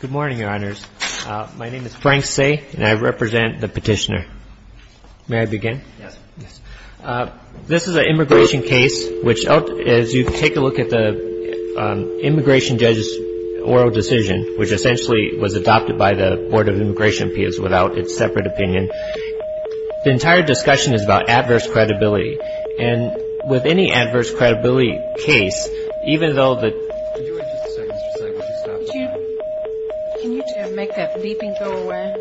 Good morning, Your Honors. My name is Frank Say, and I represent the Petitioner. May I begin? Yes. Yes. This is an immigration case, which, as you take a look at the immigration judge's oral decision, which essentially was adopted by the Board of Immigration Appeals without its separate opinion, the entire discussion is about adverse credibility case, even though the... Can you wait just a second, Mr. Say? Would you stop the time? Can you make that beeping go away?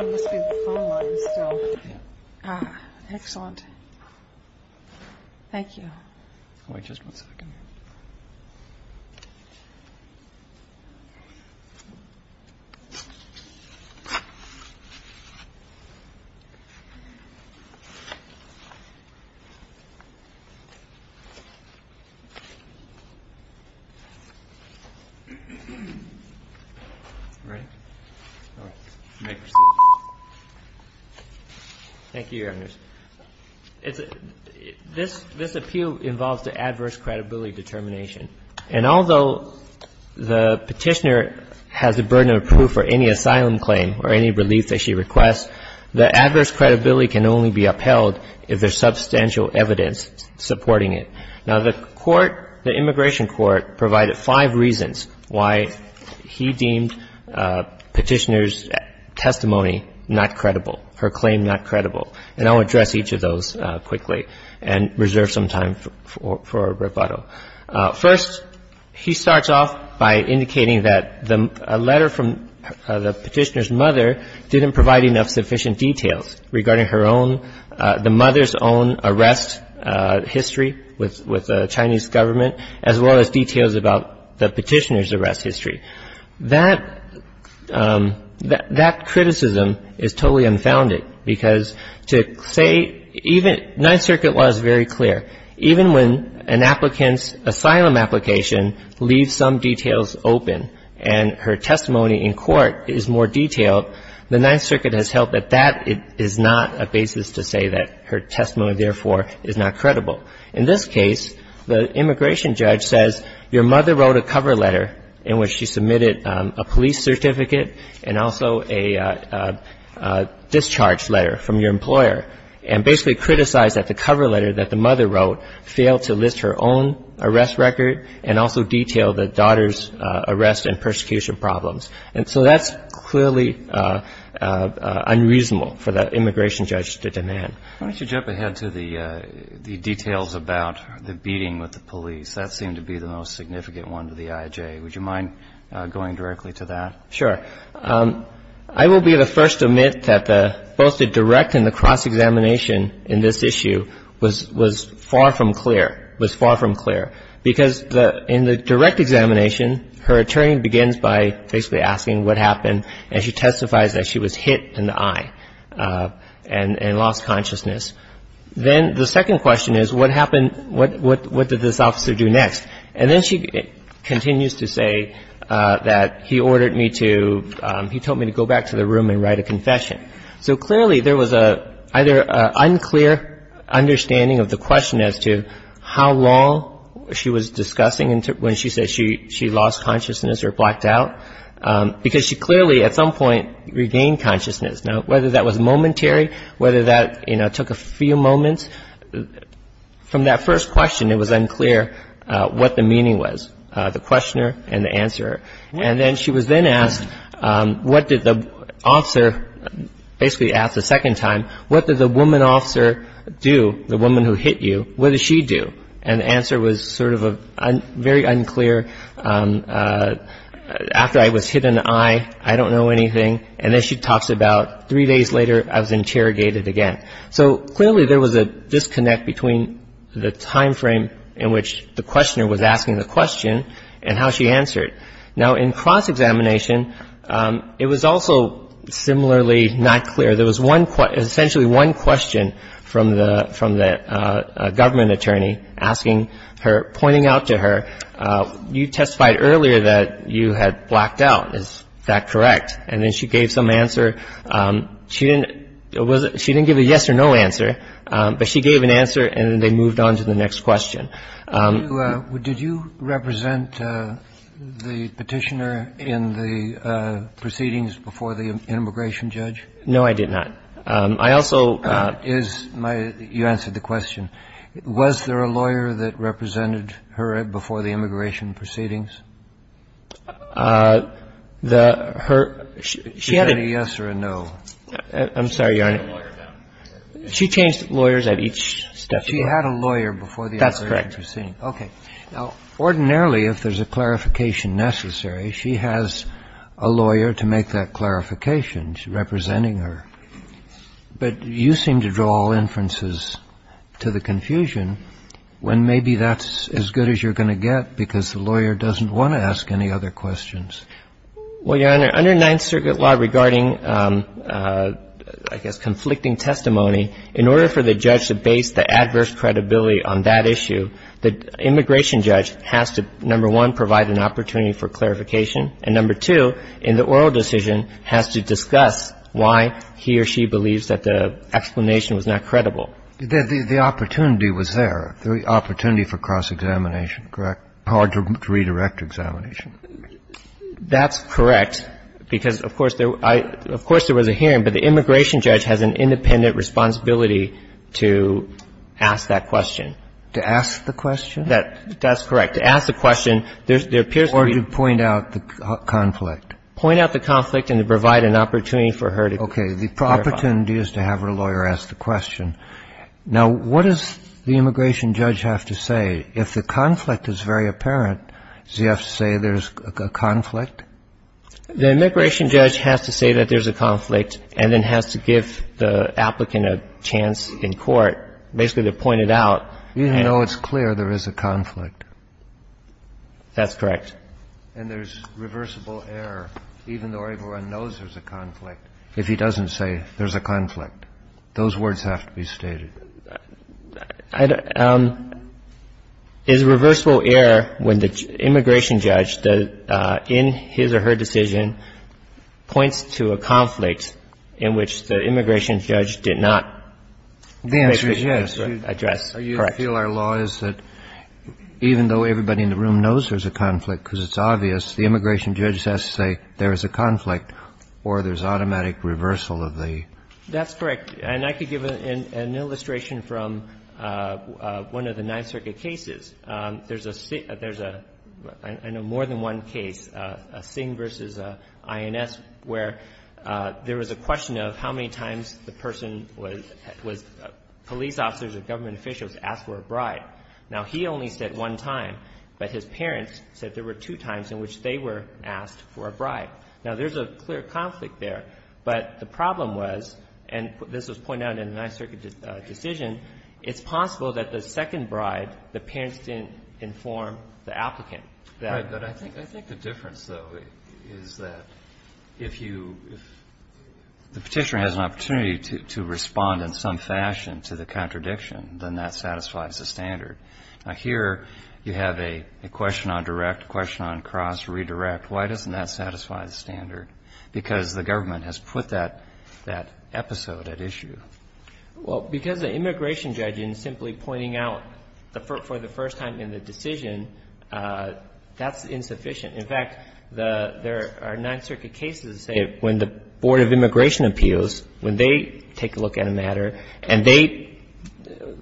It must be the phone lines still. Excellent. Thank you. Wait just one second. Ready? All right. May proceed. Thank you, Your Honors. This appeal involves the adverse credibility determination. And although the Petitioner has the burden of proof for any asylum claim or any relief that she requests, the adverse credibility can only be upheld if there's substantial evidence supporting it. Now, the court, the immigration court, provided five reasons why he deemed Petitioner's testimony not credible, her claim not credible. And I'll address each of those quickly and reserve some time for rebuttal. First, he starts off by indicating that the letter from the Petitioner's mother didn't provide enough sufficient details regarding her own, the mother's own arrest history with the Chinese government, as well as details about the Petitioner's arrest history. That criticism is totally unfounded because to say even... Ninth Circuit law is very clear. Even when an applicant's asylum application leaves some details open and her testimony in court is more detailed, the Ninth Circuit has held that that is not a basis to say that her testimony, therefore, is not credible. In this case, the immigration judge says your mother wrote a cover letter in which she submitted a police certificate and also a discharge letter from your employer and basically criticized that the cover letter that the mother wrote failed to list her own arrest record and also detail the daughter's arrest and persecution problems. And so that's clearly unreasonable for the immigration judge to demand. Why don't you jump ahead to the details about the beating with the police? That seemed to be the most significant one to the IJA. Would you mind going directly to that? Sure. I will be the first to admit that both the direct and the cross-examination in this issue was far from clear, was far from clear, because in the direct examination, her attorney begins by basically asking what happened and she testifies that she was hit in the eye and lost consciousness. Then the second question is what happened, what did this officer do next? And then she continues to say that he ordered me to, he told me to go back to the room and write a confession. So clearly there was either an unclear understanding of the question as to how long she was discussing when she said she lost consciousness or blacked out, because she clearly at some point regained consciousness. Now, whether that was momentary, whether that took a few moments, from that first question it was unclear what the meaning was, the questioner and the answerer. And then she was then asked what did the officer basically ask the second time, what did the woman officer do, the woman who hit you, what did she do? And the answer was sort of a very unclear, after I was hit in the eye, I don't know anything. And then she talks about three days later I was interrogated again. So clearly there was a disconnect between the time frame in which the questioner was asking the question and how she answered. Now, in cross-examination, it was also similarly not clear. There was one question, essentially one question from the government attorney asking her, pointing out to her, you testified earlier that you had blacked out, is that correct? And then she gave some answer. She didn't give a yes or no answer, but she gave an answer and then they moved on to the next question. Did you represent the Petitioner in the proceedings before the immigration judge? No, I did not. I also ---- You answered the question. Was there a lawyer that represented her before the immigration proceedings? The her ---- She had a yes or a no. I'm sorry, Your Honor. She changed lawyers at each step. She had a lawyer before the immigration judge. That's correct. Okay. Now, ordinarily, if there's a clarification necessary, she has a lawyer to make that clarification representing her. But you seem to draw inferences to the confusion when maybe that's as good as you're going to get because the lawyer doesn't want to ask any other questions. Well, Your Honor, under Ninth Circuit law regarding, I guess, conflicting testimony, in order for the judge to base the adverse credibility on that issue, the immigration judge has to, number one, provide an opportunity for clarification, and number two, in the oral decision, has to discuss why he or she believes that the explanation was not credible. The opportunity was there, the opportunity for cross-examination, correct? Hard to redirect examination. That's correct because, of course, there was a hearing, but the immigration judge has an independent responsibility to ask that question. To ask the question? That's correct. To ask the question, there appears to be... Or to point out the conflict. Point out the conflict and to provide an opportunity for her to clarify. Okay. The opportunity is to have her lawyer ask the question. Now, what does the immigration judge have to say? If the conflict is very apparent, does he have to say there's a conflict? The immigration judge has to say that there's a conflict and then has to give the applicant a chance in court, basically to point it out. Even though it's clear there is a conflict. That's correct. And there's reversible error, even though everyone knows there's a conflict, if he doesn't say there's a conflict. Those words have to be stated. Is reversible error when the immigration judge, in his or her decision, points to a conflict in which the immigration judge did not address? The answer is yes. Correct. You feel our law is that even though everybody in the room knows there's a conflict because it's obvious, the immigration judge has to say there is a conflict or there's automatic reversal of the... That's correct. And I could give an illustration from one of the Ninth Circuit cases. There's a, I know, more than one case, a Singh v. INS, where there was a question of how many times the person was police officers or government officials asked for a bride. Now, he only said one time, but his parents said there were two times in which they were asked for a bride. Now, there's a clear conflict there, but the problem was, and this was pointed out in the Ninth Circuit decision, it's possible that the second bride, the parents didn't inform the applicant. Right. But I think the difference, though, is that if you, if the Petitioner has an opportunity to respond in some fashion to the contradiction, then that satisfies the standard. Now, here you have a question on direct, a question on cross, redirect. Why doesn't that satisfy the standard? Because the government has put that episode at issue. Well, because the immigration judge in simply pointing out for the first time in the decision, that's insufficient. In fact, there are Ninth Circuit cases, say, when the Board of Immigration Appeals, when they take a look at a matter and they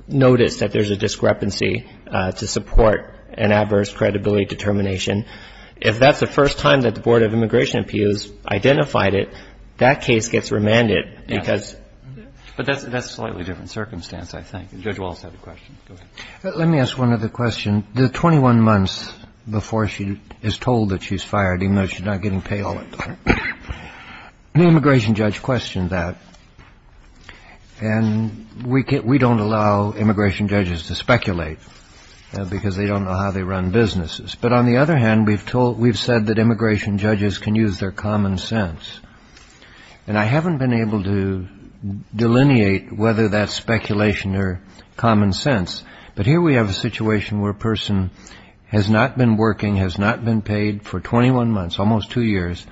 notice that there's a discrepancy to support an adverse credibility determination, if that's the first time that the Board of Immigration Appeals identified it, that case gets remanded because But that's a slightly different circumstance, I think. Judge Walz had a question. Go ahead. Let me ask one other question. The 21 months before she is told that she's fired, even though she's not getting paid all that time, the immigration judge questioned that. And we don't allow immigration judges to speculate, because they don't know how they run businesses. But on the other hand, we've said that immigration judges can use their common sense. And I haven't been able to delineate whether that's speculation or common sense. But here we have a situation where a person has not been working, has not been paid for 21 months, almost two years,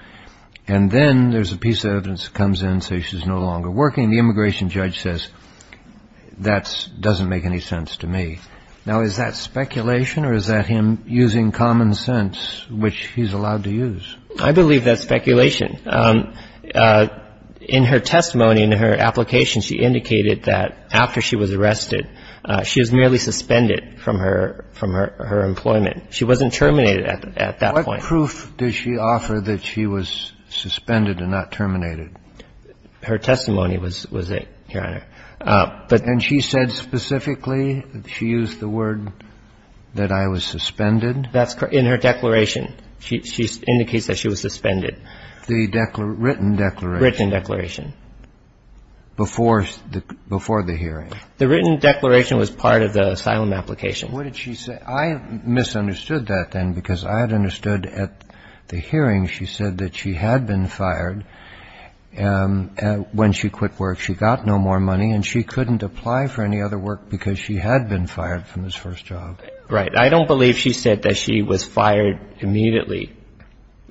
and then there's a piece of evidence that says she's no longer working. The immigration judge says, that doesn't make any sense to me. Now, is that speculation or is that him using common sense, which he's allowed to use? I believe that's speculation. In her testimony, in her application, she indicated that after she was arrested, she was merely suspended from her employment. She wasn't terminated at that point. What proof did she offer that she was suspended and not terminated? Her testimony was it, Your Honor. And she said specifically, she used the word that I was suspended? That's correct. In her declaration. She indicates that she was suspended. The written declaration? Written declaration. Before the hearing? The written declaration was part of the asylum application. What did she say? I misunderstood that then, because I had understood at the hearing she said that she had been fired when she quit work. She got no more money and she couldn't apply for any other work because she had been fired from this first job. Right. I don't believe she said that she was fired immediately.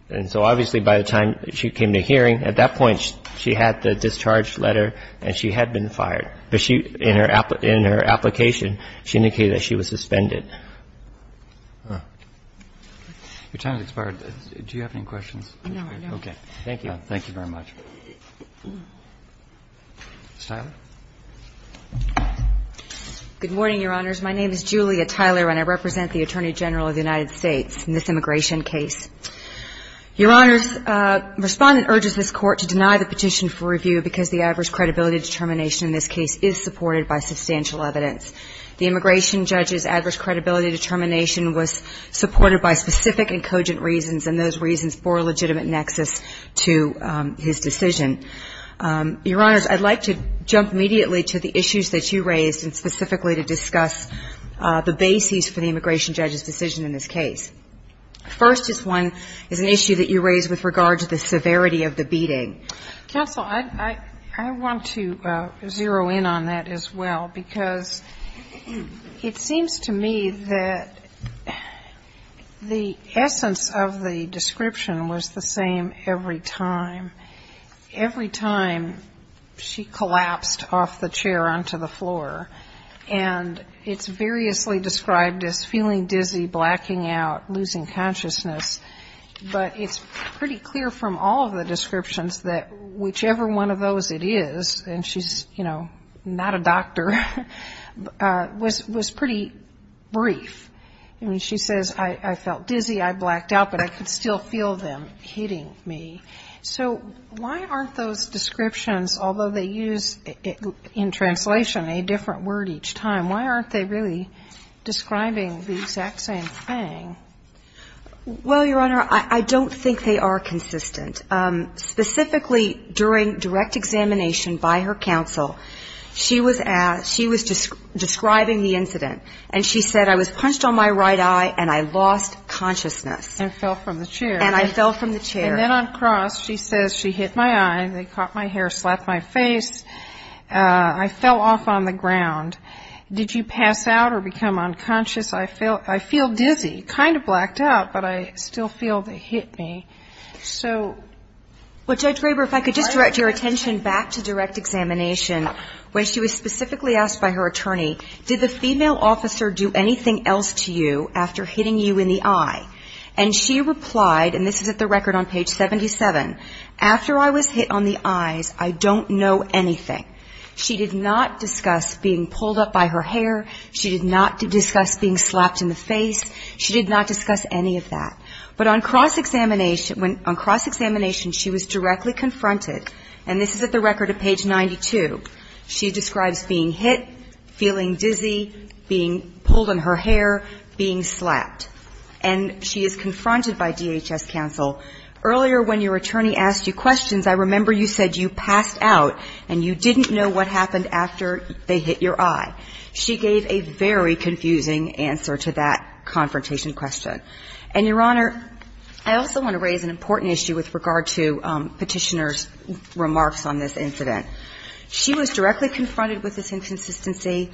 And so obviously, by the time she came to hearing, at that point, she had the discharge letter and she had been fired. But she, in her application, she indicated that she was suspended. Your time has expired. Do you have any questions? No, no. Okay. Thank you. Thank you very much. Ms. Tyler. Good morning, Your Honors. My name is Julia Tyler and I represent the Attorney General of the United States in this immigration case. Your Honors, Respondent urges this Court to deny the petition for review because the adverse credibility determination in this case is supported by substantial evidence. The immigration judge's adverse credibility determination was supported by specific and cogent reasons, and those reasons bore a legitimate nexus to his decision. Your Honors, I'd like to jump immediately to the issues that you raised and specifically to discuss the bases for the immigration judge's decision in this case. First is one, is an issue that you raised with regard to the severity of the beating. Counsel, I want to zero in on that as well, because it seems to me that the essence of the description was the same every time. Every time she collapsed off the chair onto the floor, and it's variously described as feeling dizzy, blacking out, losing consciousness. But it's pretty clear from all of the descriptions that whichever one of those it is, and she's, you know, not a doctor, was pretty brief. I mean, she says, I felt dizzy, I blacked out, but I could still feel them hitting me. So why aren't those descriptions, although they use in translation a different word each time, why aren't they really describing the exact same thing? Well, Your Honor, I don't think they are consistent. Specifically during direct examination by her counsel, she was describing the incident, and she said, I was punched on my right eye and I lost consciousness. And fell from the chair. And I fell from the chair. And then on cross, she says, she hit my eye, they caught my hair, slapped my face. I fell off on the ground. Did you pass out or become unconscious? I feel dizzy, kind of blacked out, but I still feel they hit me. So... And this is at the record on page 77, after I was hit on the eyes, I don't know anything. She did not discuss being pulled up by her hair, she did not discuss being slapped in the face, she did not discuss any of that. But on cross-examination, she was directly confronted, and this is at the record of page 92, she describes being hit, feeling dizzy, being pulled on her hair, being slapped. And she is confronted by DHS counsel, earlier when your attorney asked you questions, I remember you said you passed out and you didn't know what happened after they hit your eye. She gave a very confusing answer to that confrontation question. And, Your Honor, I also want to raise an important issue with regard to Petitioner's remarks on this incident. She was directly confronted with this inconsistency,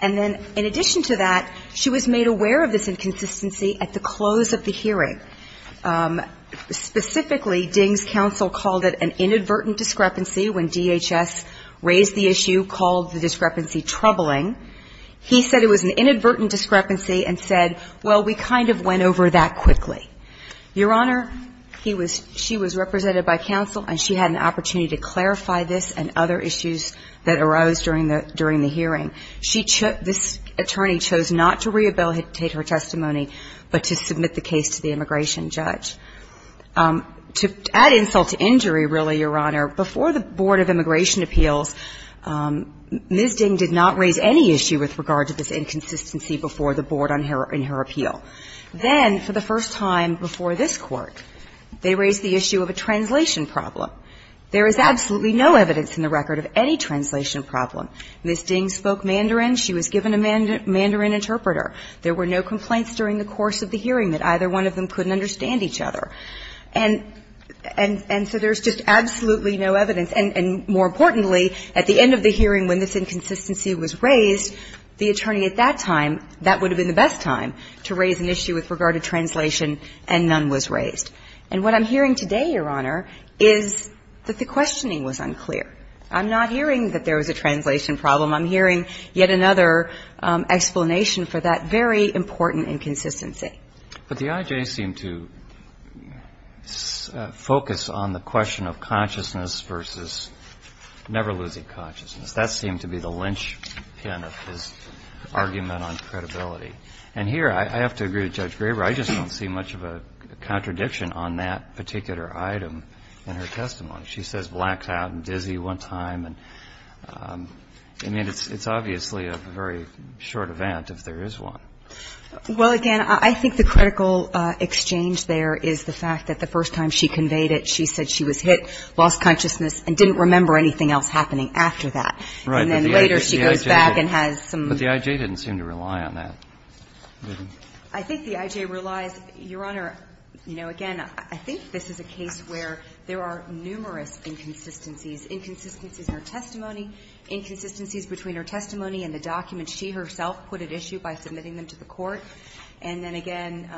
and then in addition to that, she was made aware of this inconsistency at the close of the hearing. Specifically, Ding's counsel called it an inadvertent discrepancy when DHS raised the issue, called the discrepancy troubling. He said it was an inadvertent discrepancy and said, well, we kind of went over that quickly. Your Honor, he was, she was represented by counsel, and she had an opportunity to clarify this and other issues that arose during the hearing. She took, this attorney chose not to rehabilitate her testimony, but to submit the case to the immigration judge. To add insult to injury, really, Your Honor, before the Board of Immigration Appeals, Ms. Ding did not raise any issue with regard to this inconsistency before the Board in her appeal. Then, for the first time before this Court, they raised the issue of a translation problem. There is absolutely no evidence in the record of any translation problem. Ms. Ding spoke Mandarin. She was given a Mandarin interpreter. There were no complaints during the course of the hearing that either one of them couldn't understand each other. And so there's just absolutely no evidence. And more importantly, at the end of the hearing when this inconsistency was raised, the attorney at that time, that would have been the best time to raise an issue with regard to translation, and none was raised. And what I'm hearing today, Your Honor, is that the questioning was unclear. I'm not hearing that there was a translation problem. I'm hearing yet another explanation for that very important inconsistency. But the IJ seemed to focus on the question of consciousness versus never losing consciousness. That seemed to be the linchpin of his argument on credibility. And here, I have to agree with Judge Graber, I just don't see much of a contradiction on that particular item in her testimony. She says blacked out and dizzy one time. I mean, it's obviously a very short event if there is one. Well, again, I think the critical exchange there is the fact that the first time she conveyed it, she said she was hit, lost consciousness, and didn't remember anything else happening after that. And then later she goes back and has some. But the IJ didn't seem to rely on that. I think the IJ relies. Your Honor, you know, again, I think this is a case where there are numerous inconsistencies, inconsistencies in her testimony, inconsistencies between her testimony and the documents she herself put at issue by submitting them to the court, and then again,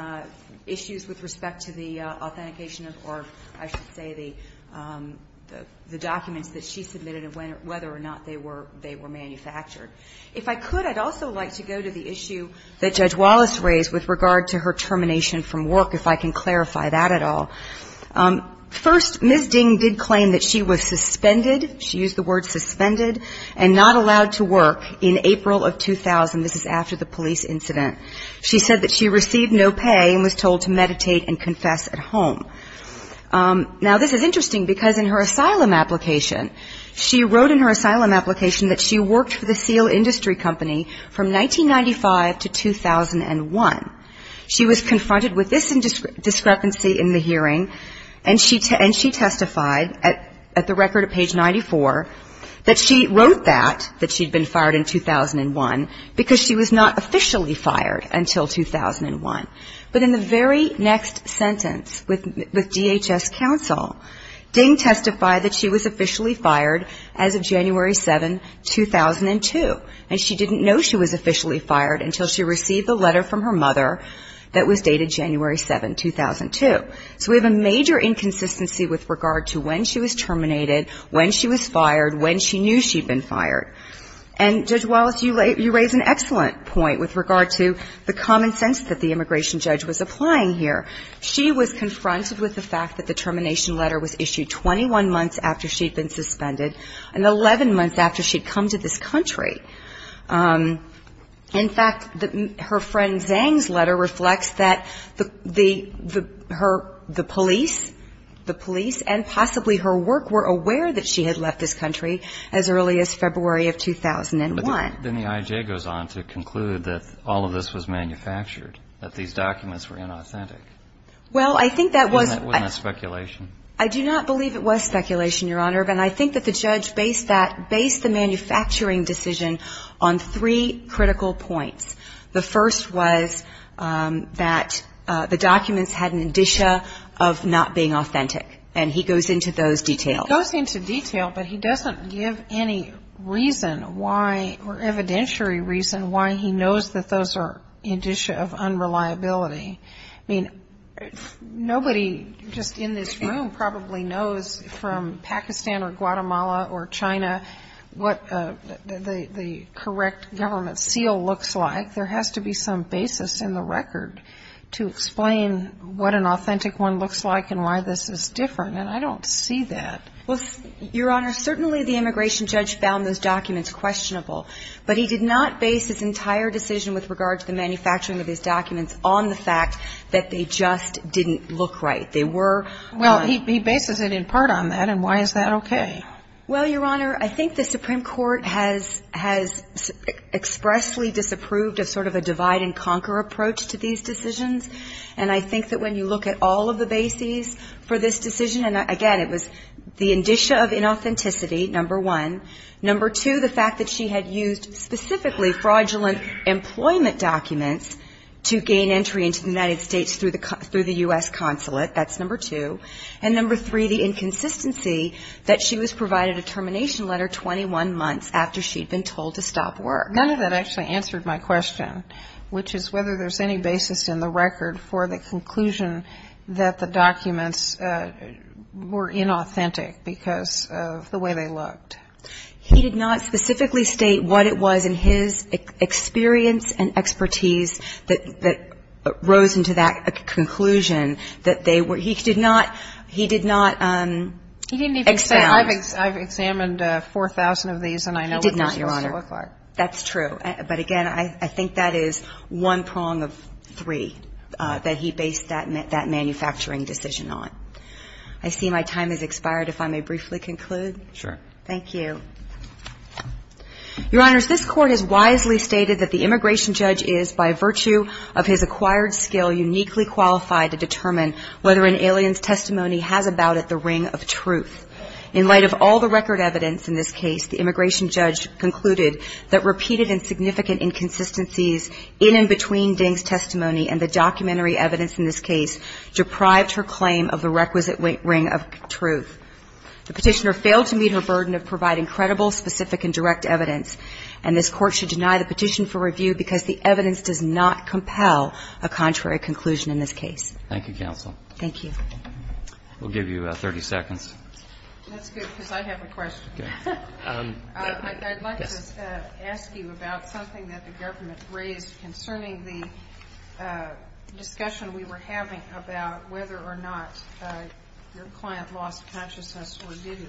issues with respect to the authentication of, or I should say the documents that she submitted and whether or not they were manufactured. If I could, I'd also like to go to the issue that Judge Wallace raised with regard to her termination from work, if I can clarify that at all. First, Ms. Ding did claim that she was suspended, she used the word suspended, and not allowed to work in April of 2000. This is after the police incident. She said that she received no pay and was told to meditate and confess at home. Now, this is interesting because in her asylum application, she wrote in her asylum application that she worked for the Seal Industry Company from 1995 to 2001. She was confronted with this discrepancy in the hearing, and she testified at the record at page 94 that she wrote that, that she'd been fired in 2001, because she was not officially fired until 2001. But in the very next sentence with DHS counsel, Ding testified that she was officially fired as of January 7, 2002, and she didn't know she was officially fired until she received a letter from her mother that was dated January 7, 2002. So we have a major inconsistency with regard to when she was terminated, when she was fired, when she knew she'd been fired. And Judge Wallace, you raise an excellent point with regard to the common sense that the immigration judge was applying here. She was confronted with the fact that the termination letter was issued 21 months after she'd been suspended and 11 months after she'd come to this country. In fact, her friend Zhang's letter reflects that the police and possibly her work were aware that she had left this country as early as February of 2001. Then the I.J. goes on to conclude that all of this was manufactured, that these documents were inauthentic. Well, I think that was ñ And that wasn't speculation. I do not believe it was speculation, Your Honor. And I think that the judge based that, based the manufacturing decision on three critical points. The first was that the documents had an indicia of not being authentic, and he goes into those details. He goes into detail, but he doesn't give any reason why, or evidentiary reason why he knows that those are indicia of unreliability. I mean, nobody just in this room probably knows from Pakistan or Guatemala or China what the correct government seal looks like. There has to be some basis in the record to explain what an authentic one looks like and why this is different. And I don't see that. Well, Your Honor, certainly the immigration judge found those documents questionable, but he did not base his entire decision with regard to the manufacturing of these documents on the fact that they just didn't look right. They were ñ Well, he bases it in part on that, and why is that okay? Well, Your Honor, I think the Supreme Court has expressly disapproved of sort of a divide-and-conquer approach to these decisions. And I think that when you look at all of the bases for this decision, and again, it was the indicia of inauthenticity, number one. Number two, the fact that she had used specifically fraudulent employment documents to gain entry into the United States through the U.S. consulate. That's number two. And number three, the inconsistency that she was provided a termination letter 21 months after she'd been told to stop work. None of that actually answered my question, which is whether there's any basis in the record for the conclusion that the documents were inauthentic because of the way they looked. He did not specifically state what it was in his experience and expertise that rose into that conclusion that they were ñ he did not ñ he did not expound. He didn't even say, I've examined 4,000 of these, and I know what they used to look like. He did not, Your Honor. That's true. But again, I think that is one prong of three that he based that manufacturing decision on. I see my time has expired. If I may briefly conclude. Sure. Thank you. Your Honors, this Court has wisely stated that the immigration judge is, by virtue of his acquired skill, uniquely qualified to determine whether an alien's testimony has about it the ring of truth. In light of all the record evidence in this case, the immigration judge concluded that repeated and significant inconsistencies in and between Ding's testimony and the documentary evidence in this case deprived her claim of the requisite ring of truth. The Petitioner failed to meet her burden of providing credible, specific, and direct evidence, and this Court should deny the petition for review because the evidence does not compel a contrary conclusion in this case. Thank you, counsel. Thank you. We'll give you 30 seconds. That's good because I have a question. Okay. I'd like to ask you about something that the government raised concerning the discussion we were having about whether or not your client lost consciousness or didn't.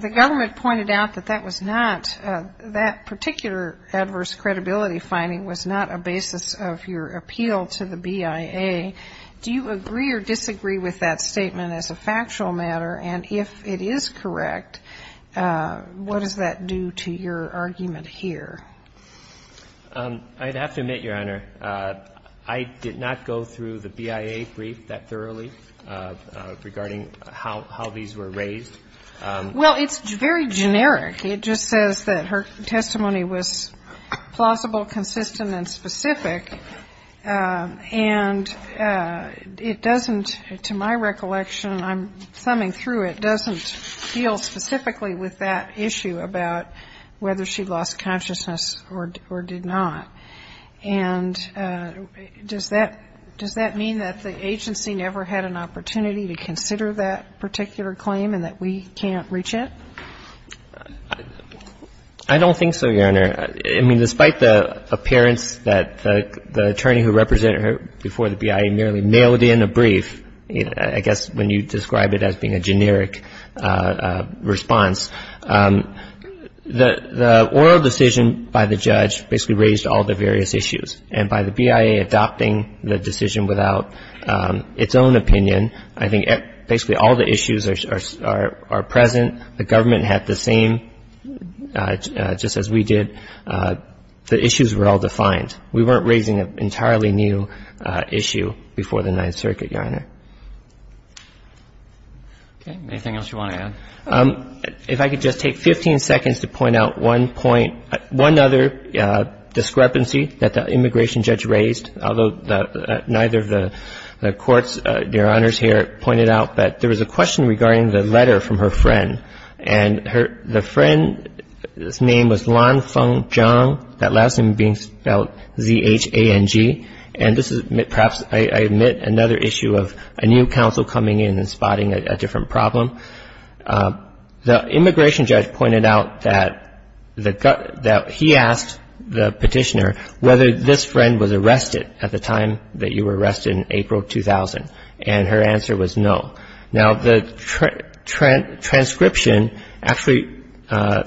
The government pointed out that that was not, that particular adverse credibility finding was not a basis of your appeal to the BIA. Do you agree or disagree with that statement as a factual matter? And if it is correct, what does that do to your argument here? I'd have to admit, Your Honor, I did not go through the BIA brief that thoroughly regarding how these were raised. Well, it's very generic. It just says that her testimony was plausible, consistent, and specific. And it doesn't, to my recollection, I'm summing through it, doesn't deal specifically with that issue about whether she lost consciousness or did not. And does that mean that the agency never had an opportunity to consider that particular claim and that we can't reach it? I don't think so, Your Honor. Your Honor, I mean, despite the appearance that the attorney who represented her before the BIA merely mailed in a brief, I guess when you describe it as being a generic response, the oral decision by the judge basically raised all the various issues. And by the BIA adopting the decision without its own opinion, I think basically all the issues are present. The government had the same, just as we did. The issues were all defined. We weren't raising an entirely new issue before the Ninth Circuit, Your Honor. Okay. Anything else you want to add? If I could just take 15 seconds to point out one point, one other discrepancy that the immigration judge raised, although neither of the courts, Your Honors, here pointed out, but there was a question regarding the letter from her friend. And the friend's name was Lan Feng Zhang, that last name being spelled Z-H-A-N-G. And this is perhaps, I admit, another issue of a new counsel coming in and spotting a different problem. The immigration judge pointed out that he asked the petitioner whether this friend was arrested at the time that you were arrested, in April 2000, and her answer was no. Now, the transcription actually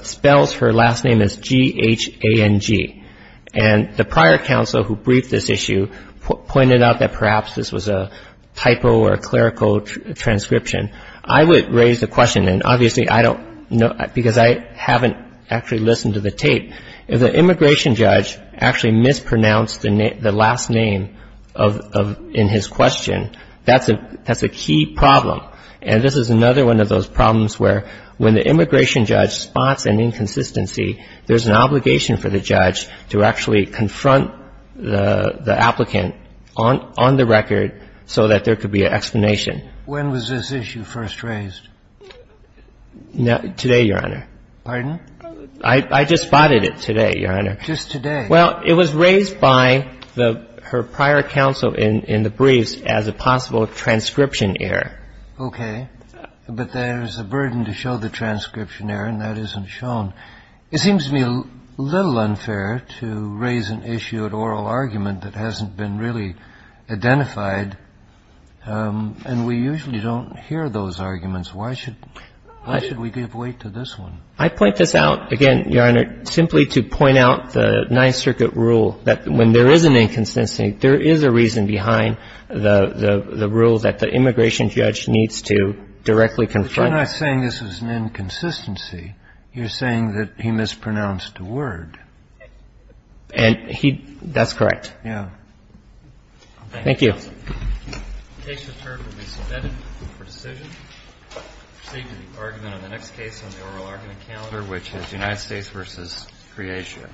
spells her last name as G-H-A-N-G. And the prior counsel who briefed this issue pointed out that perhaps this was a typo or a clerical transcription. I would raise the question, and obviously I don't know, because I haven't actually listened to the tape. If the immigration judge actually mispronounced the last name in his question, that's a key problem. And this is another one of those problems where when the immigration judge spots an inconsistency, there's an obligation for the judge to actually confront the applicant on the record so that there could be an explanation. When was this issue first raised? Today, Your Honor. Pardon? I just spotted it today, Your Honor. Just today. Well, it was raised by her prior counsel in the briefs as a possible transcription error. Okay. But there's a burden to show the transcription error, and that isn't shown. It seems to me a little unfair to raise an issue at oral argument that hasn't been really identified, and we usually don't hear those arguments. Why should we give weight to this one? I point this out, again, Your Honor, simply to point out the Ninth Circuit rule that when there is an inconsistency, there is a reason behind the rule that the immigration judge needs to directly confront. But you're not saying this is an inconsistency. You're saying that he mispronounced a word. And he — that's correct. Yeah. Thank you. The case return will be submitted for decision. Proceed to the argument on the next case on the oral argument calendar, which is United States v. Croatia.